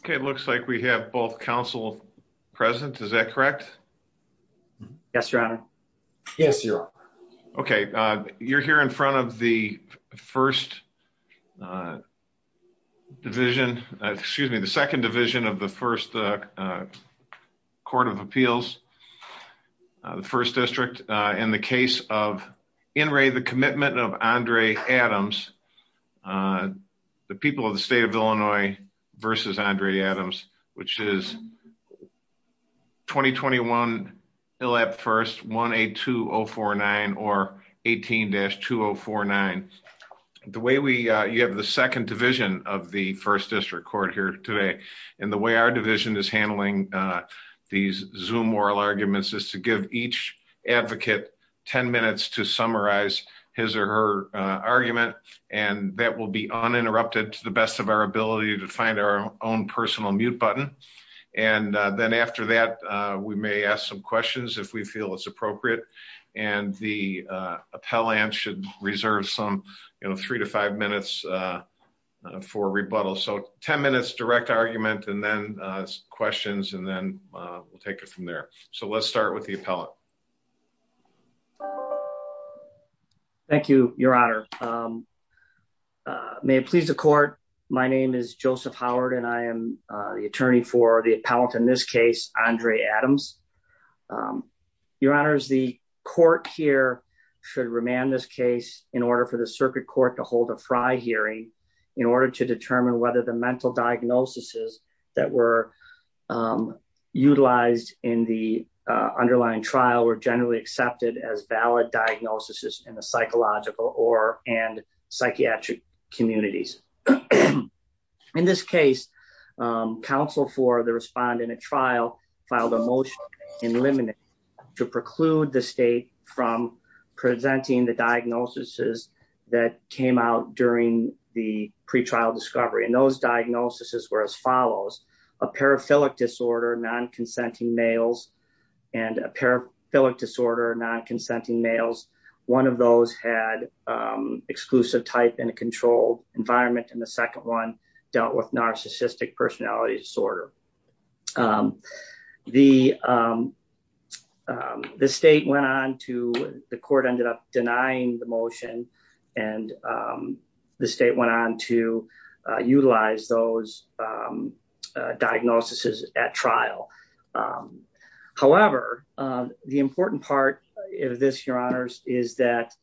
Okay, it looks like we have both counsel present. Is that correct? Yes, Your Honor. Yes, Your Honor. Okay, you're here in front of the First Division, excuse me, the Second Division of the First Court of Appeals, the First District. In the case of In re the commitment of Andre Adams. The people of the state of Illinois, versus Andre Adams, which is 2021. It'll have first 1-8-2-0-4-9 or 18-2-0-4-9. The way we have the Second Division of the First District Court here today, and the way our division is handling these zoom oral arguments is to give each advocate 10 minutes to summarize his or her argument, and that will be uninterrupted to the best of our questions if we feel it's appropriate, and the appellant should reserve some, you know, three to five minutes for rebuttal so 10 minutes direct argument and then questions and then we'll take it from there. So let's start with the appellant. Thank you, Your Honor. May it please the court. My name is Joseph Howard and I am the attorney for the appellant in this case, Andre Adams. Your Honor is the court here should remand this case in order for the circuit court to hold a fry hearing in order to determine whether the mental diagnoses that were utilized in the underlying trial were generally accepted as valid diagnoses in the psychological or and psychiatric communities. In this case, counsel for the respondent trial filed a motion in limited to preclude the state from presenting the diagnoses that came out during the pre trial discovery and those diagnoses were as follows, a paraphilic disorder non consenting males, and dealt with narcissistic personality disorder. The, the state went on to the court ended up denying the motion, and the state went on to utilize those diagnoses at trial. However, the important part of this your honors, is that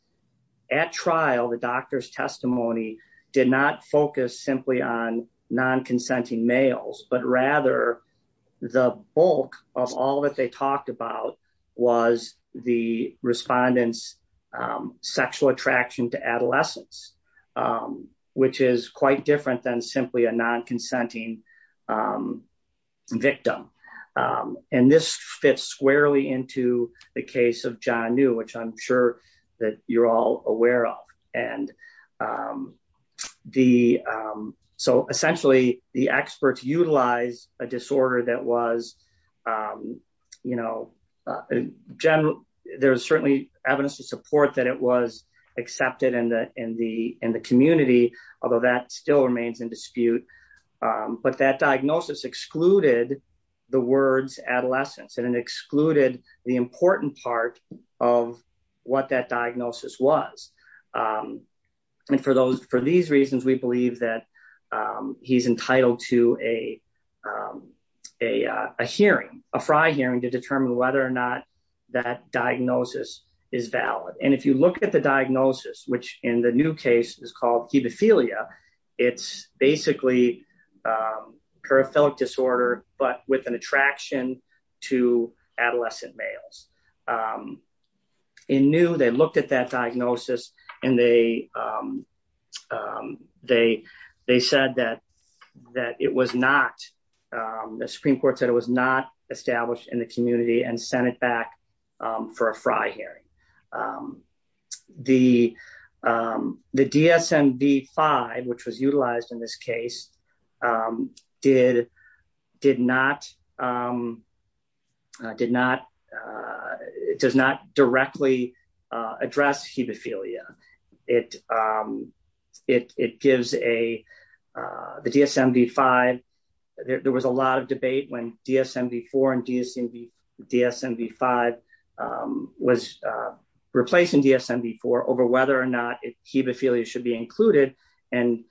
at trial the doctor's testimony did not focus simply on non consenting males but rather the bulk of all that they talked about was the respondents sexual attraction to adolescence, which is quite different than simply a non consenting victim. And this fits squarely into the case of john knew which I'm sure that you're all aware of. And the. So essentially, the experts utilize a disorder that was, you know, general, there's certainly evidence to support that it was accepted in the, in the, in the community, although that still remains in dispute. But that diagnosis excluded the words adolescence and and excluded the important part of what that diagnosis was. And for those for these reasons we believe that he's entitled to a, a hearing a fry hearing to determine whether or not that diagnosis is valid and if you look at the diagnosis which in the new case is called pedophilia. It's basically paraphilic disorder, but with an attraction to adolescent males. In new they looked at that diagnosis, and they, they, they said that, that it was not the Supreme Court said it was not established in the community and send it back for a fry hearing the, the DSM D five which was utilized in this case, did, did not, did not. It does not directly address hemophilia, it, it gives a DSM D five. There was a lot of debate when DSM before and DSM DSM D five was replacing DSM before over whether or not it he before you should be included, and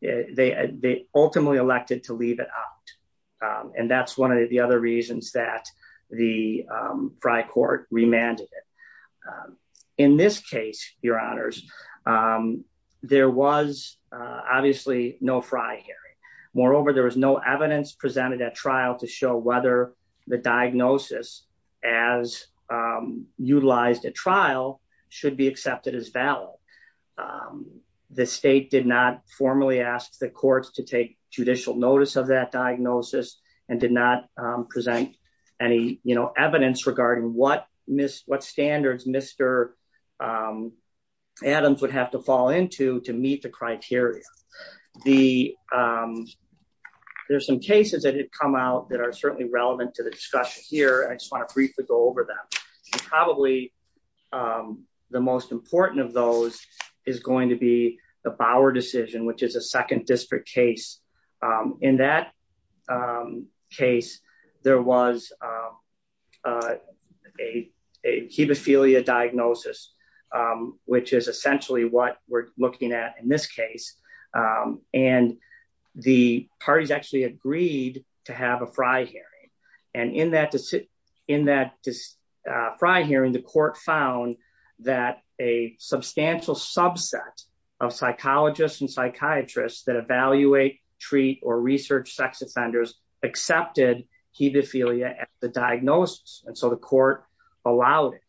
they ultimately elected to leave it out. And that's one of the other reasons that the fry court remanded it. In this case, your honors. There was obviously no fry here. Moreover, there was no evidence presented at trial to show whether the diagnosis as utilized a trial should be accepted as valid. The state did not formally asked the courts to take judicial notice of that diagnosis, and did not present any, you know, evidence regarding what missed what standards Mr. Adams would have to fall into to meet the criteria. The. There's some cases that have come out that are certainly relevant to the discussion here I just want to briefly go over that probably the most important of those is going to be the Bauer decision which is a second district case. In that case, there was a, a, a hemophilia diagnosis, which is essentially what we're looking at in this case. And the parties actually agreed to have a Friday. And in that to sit in that fry hearing the court found that a substantial subset of psychologists and psychiatrists that evaluate treat or research sex offenders accepted hemophilia, the diagnosis, and so the court allowed it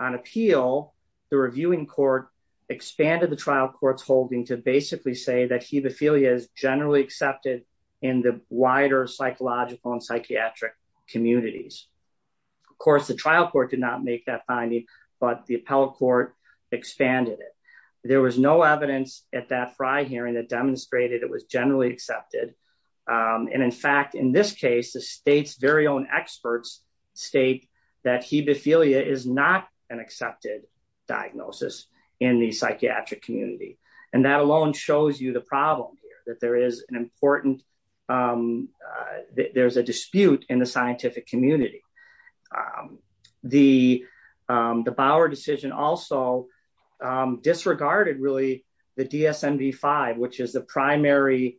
on appeal. The reviewing court expanded the trial courts holding to basically say that hemophilia is generally accepted in the wider psychological and psychiatric communities. Of course the trial court did not make that finding, but the appellate court expanded it. There was no evidence at that fry hearing that demonstrated it was generally accepted. And in fact in this case the state's very own experts state that hemophilia is not an accepted diagnosis in the psychiatric community, and that alone shows you the problem here that there is an important. There's a dispute in the scientific community. The Bauer decision also disregarded really the DSM V5 which is the primary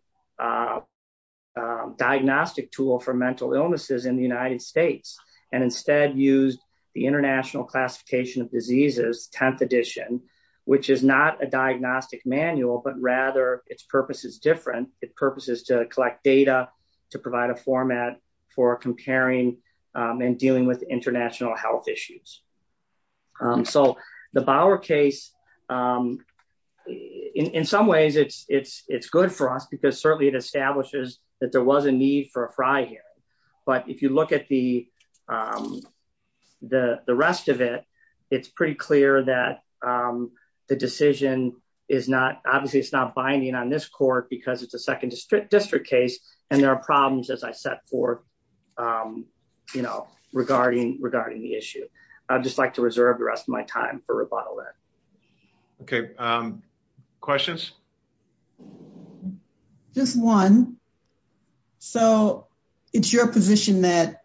diagnostic tool for mental illnesses in the United States, and instead used the International Classification of Diseases 10th edition, which is not a diagnostic manual but rather its purpose is different. Its purpose is to collect data to provide a format for comparing and dealing with international health issues. So, the Bauer case. In some ways it's good for us because certainly it establishes that there was a need for a fry here. But if you look at the rest of it, it's pretty clear that the decision is not obviously it's not binding on this court because it's a second district district case, and there are problems as I said for, you know, regarding regarding the issue. I'd just like to reserve the rest of my time for rebuttal that. Okay. Questions. Just one. So, it's your position that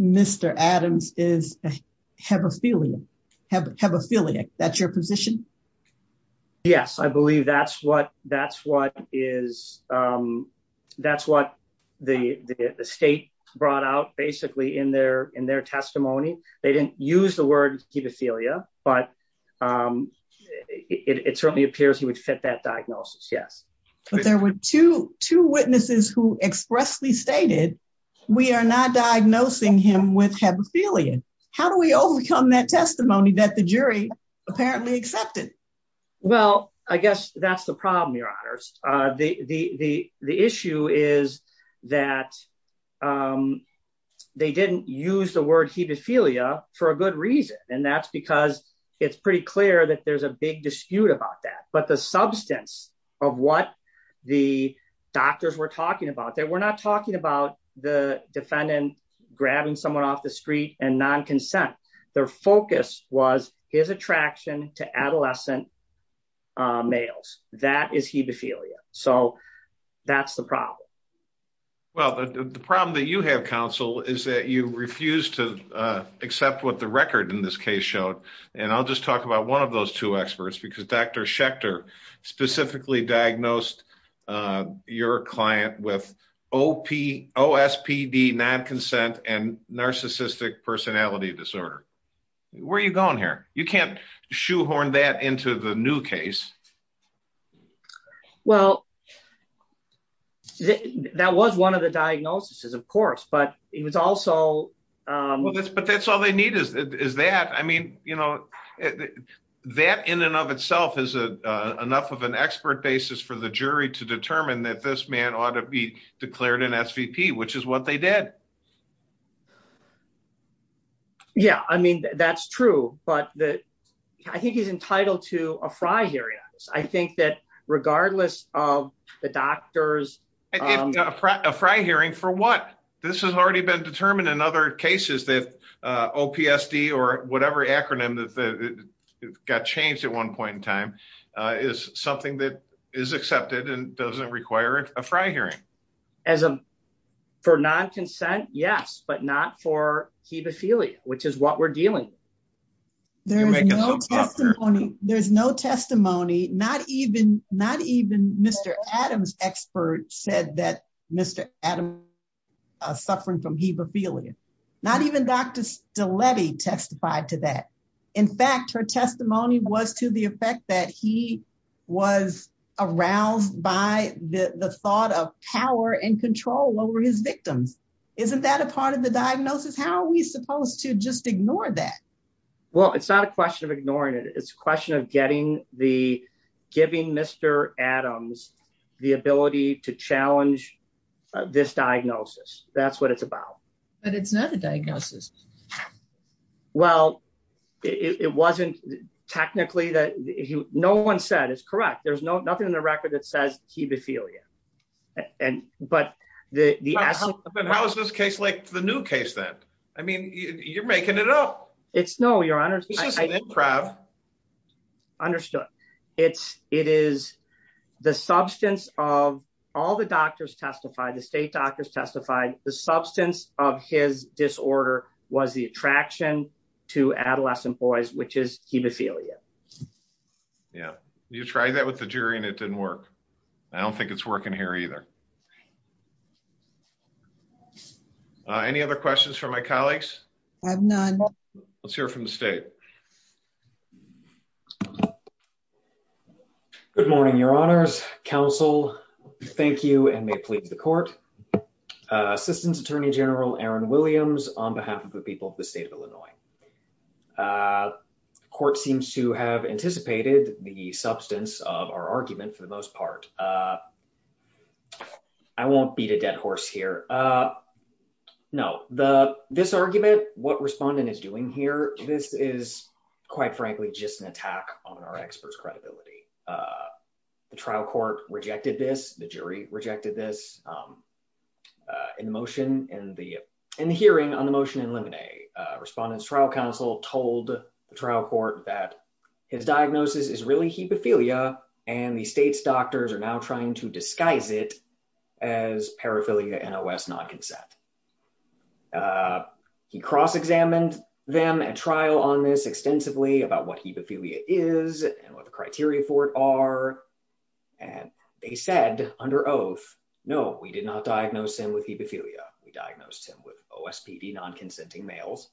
Mr Adams is have a feeling have have a feeling that your position. Yes, I believe that's what that's what is. That's what the state brought out basically in their, in their testimony, they didn't use the word pedophilia, but it certainly appears he would fit that diagnosis. But there were two, two witnesses who expressly stated, we are not diagnosing him with have a feeling. How do we overcome that testimony that the jury apparently accepted. Well, I guess that's the problem your honors. The, the, the issue is that they didn't use the word pedophilia, for a good reason, and that's because it's pretty clear that there's a big dispute about that but the substance of what the doctors were talking about that we're not talking about the defendant, grabbing someone off the street, and non consent. Their focus was his attraction to adolescent males, that is he the failure. So, that's the problem. Well, the problem that you have counsel is that you refuse to accept what the record in this case showed, and I'll just talk about one of those two experts because Dr Schechter specifically diagnosed your client with Opie OSPD non consent and narcissistic personality disorder. Where are you going here, you can't shoehorn that into the new case. Well, that was one of the diagnosis is of course but it was also. But that's all they need is that I mean, you know, that in and of itself is a enough of an expert basis for the jury to determine that this man ought to be declared an SVP which is what they did. Yeah, I mean, that's true, but that I think he's entitled to a fry here. I think that regardless of the doctors, a fry hearing for what this has already been determined in other cases that OPSD or whatever acronym that got changed at one point in time is something that is accepted and doesn't require a fry hearing as a for non consent. Yes, but not for he'd be feeling, which is what we're dealing. There's no testimony, there's no testimony, not even not even Mr. Adams expert said that Mr. Adam suffering from Hebrew feeling, not even Dr. Delaney testified to that. In fact, her testimony was to the effect that he was aroused by the thought of power and control over his victims. Isn't that a part of the diagnosis, how are we supposed to just ignore that. Well, it's not a question of ignoring it it's a question of getting the giving Mr. Adams, the ability to challenge this diagnosis, that's what it's about. And it's not a diagnosis. Well, it wasn't technically that he no one said is correct there's no nothing in the record that says he'd be feeling. And, but the house this case like the new case that, I mean, you're making it up. It's no your honor crab understood. It's, it is the substance of all the doctors testified the state doctors testified the substance of his disorder. Was the attraction to adolescent boys which is hemophilia. Yeah, you try that with the jury and it didn't work. I don't think it's working here either. Any other questions for my colleagues. Let's hear from the state. Good morning, Your Honors Council. Thank you and may please the court. Assistance Attorney General Aaron Williams, on behalf of the people of the state of Illinois. Court seems to have anticipated the substance of our argument for the most part. I won't beat a dead horse here. No, the this argument, what respondent is doing here. This is, quite frankly, just an attack on our experts credibility. The trial court rejected this, the jury rejected this emotion in the, in the hearing on the motion eliminate respondents trial counsel told the trial court that his diagnosis is really hemophilia, and the state's doctors are now trying to disguise it as paraphernalia NOS non consent. He cross examined them and trial on this extensively about what hemophilia is and what the criteria for it are. And they said under oath. No, we did not diagnose him with hemophilia, we diagnosed him with OS PD non consenting males,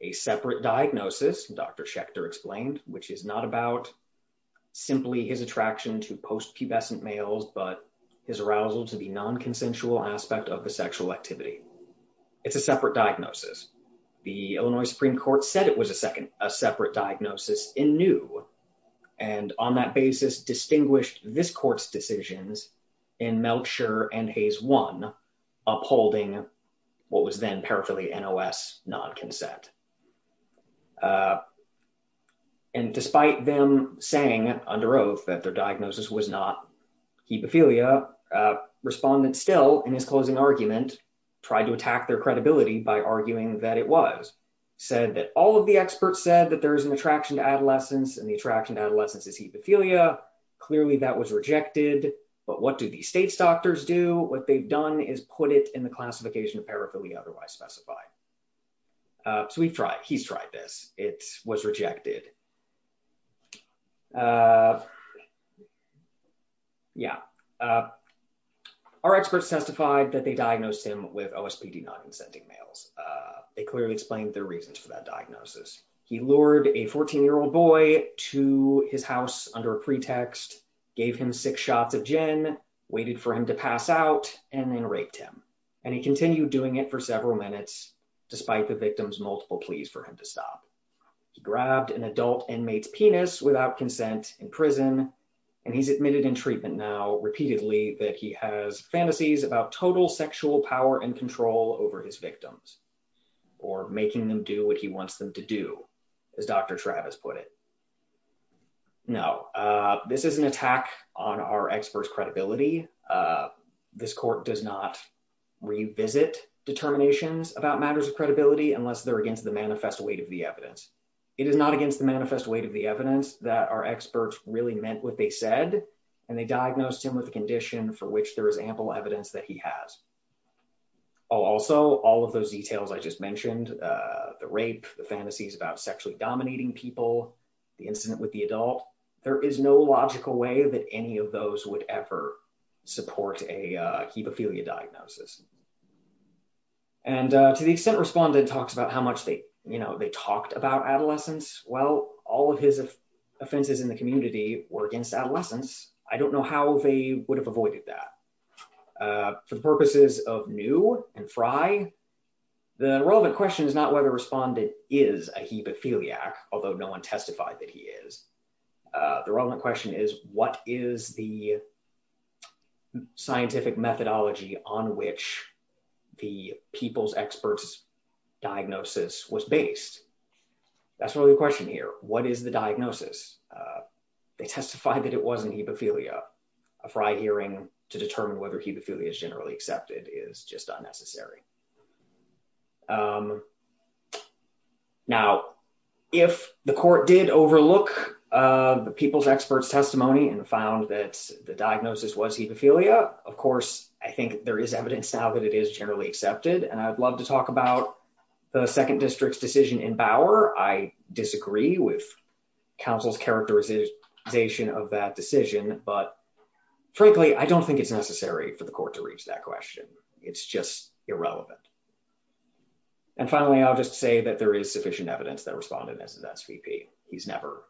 a separate diagnosis, Dr Schechter explained, which is not about simply his attraction to post pubescent males but his arousal to be non consensual aspect of the sexual activity. It's a separate diagnosis. The Illinois Supreme Court said it was a second, a separate diagnosis in new, and on that basis distinguished this court's decisions in Melcher and Hayes one upholding what was then paraphernalia NOS non consent. And despite them saying under oath that their diagnosis was not hemophilia respondents still in his closing argument, tried to attack their credibility by arguing that it was said that all of the experts said that there is an attraction to adolescence and the attraction adolescence is hemophilia. Clearly that was rejected. But what do the state's doctors do what they've done is put it in the classification of paraphernalia otherwise specified. So we've tried he's tried this, it was rejected. Yeah. Our experts testified that they diagnosed him with OS PD non consenting males. It clearly explained the reasons for that diagnosis. He lured a 14 year old boy to his house under a pretext, gave him six shots of gin, waited for him to pass out, and then raped him, and he continued doing it for several minutes. Despite the victims multiple pleas for him to stop grabbed an adult inmates penis without consent in prison, and he's admitted in treatment now repeatedly that he has fantasies about total sexual power and control over his victims, or making them do what he wants them to do. As Dr. Travis put it. No. This is an attack on our experts credibility. This court does not revisit determinations about matters of credibility unless they're against the manifest weight of the evidence. It is not against the manifest weight of the evidence that our experts really meant what they said, and they diagnosed him with a condition for which there is ample evidence that he has. Also, all of those details I just mentioned the rape, the fantasies about sexually dominating people, the incident with the adult, there is no logical way that any of those would ever support a hemophilia diagnosis. And to the extent responded talks about how much they, you know, they talked about adolescence, well, all of his offenses in the community were against adolescence, I don't know how they would have avoided that. For the purposes of new and fry. The relevant question is not whether responded is a hemophiliac, although no one testified that he is. The relevant question is, what is the scientific methodology on which the people's experts diagnosis was based. That's really the question here, what is the diagnosis. They testified that it wasn't hemophilia, a fried hearing to determine whether he the feeling is generally accepted is just unnecessary. Now, if the court did overlook the people's experts testimony and found that the diagnosis was hemophilia, of course, I think there is evidence now that it is generally accepted and I'd love to talk about the second district's decision in Bauer I disagree with councils characterization of that decision, but frankly I don't think it's necessary for the court to reach that question. It's just irrelevant. And finally, I'll just say that there is sufficient evidence that responded as an SVP, he's never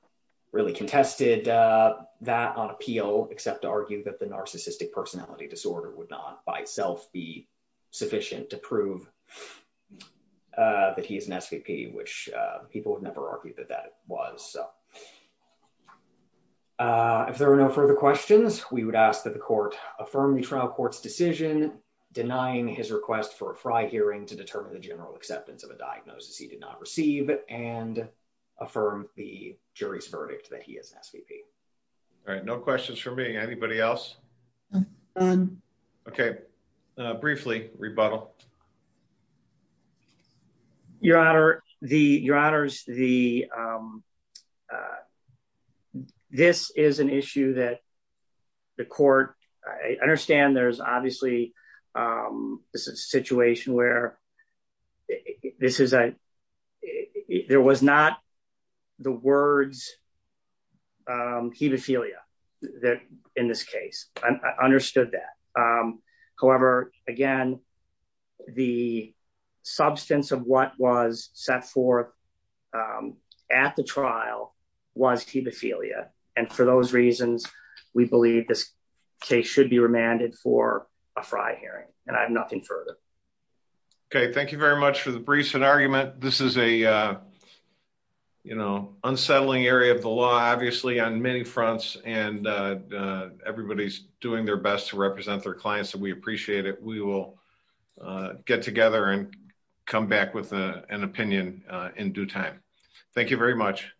really contested that on appeal, except to argue that the narcissistic personality disorder would not by itself be sufficient to prove that he is an SVP which people would never argue that that was. So, if there are no further questions, we would ask that the court, affirm the trial courts decision, denying his request for a fried hearing to determine the general acceptance of a diagnosis he did not receive it and affirm the jury's verdict that he has SVP. All right, no questions for me anybody else. Okay. Briefly rebuttal. Your Honor, the your honors, the. This is an issue that the court. I understand there's obviously a situation where this is a. There was not the words, hemophilia, that, in this case, I understood that. However, again, the substance of what was set forth at the trial was hemophilia. And for those reasons, we believe this case should be remanded for a fry hearing, and I have nothing further. Okay, thank you very much for the briefs and argument. This is a, you know, unsettling area of the law obviously on many fronts, and everybody's doing their best to represent their clients and we appreciate it, we will get together and come back with an opinion in due time. Thank you very much.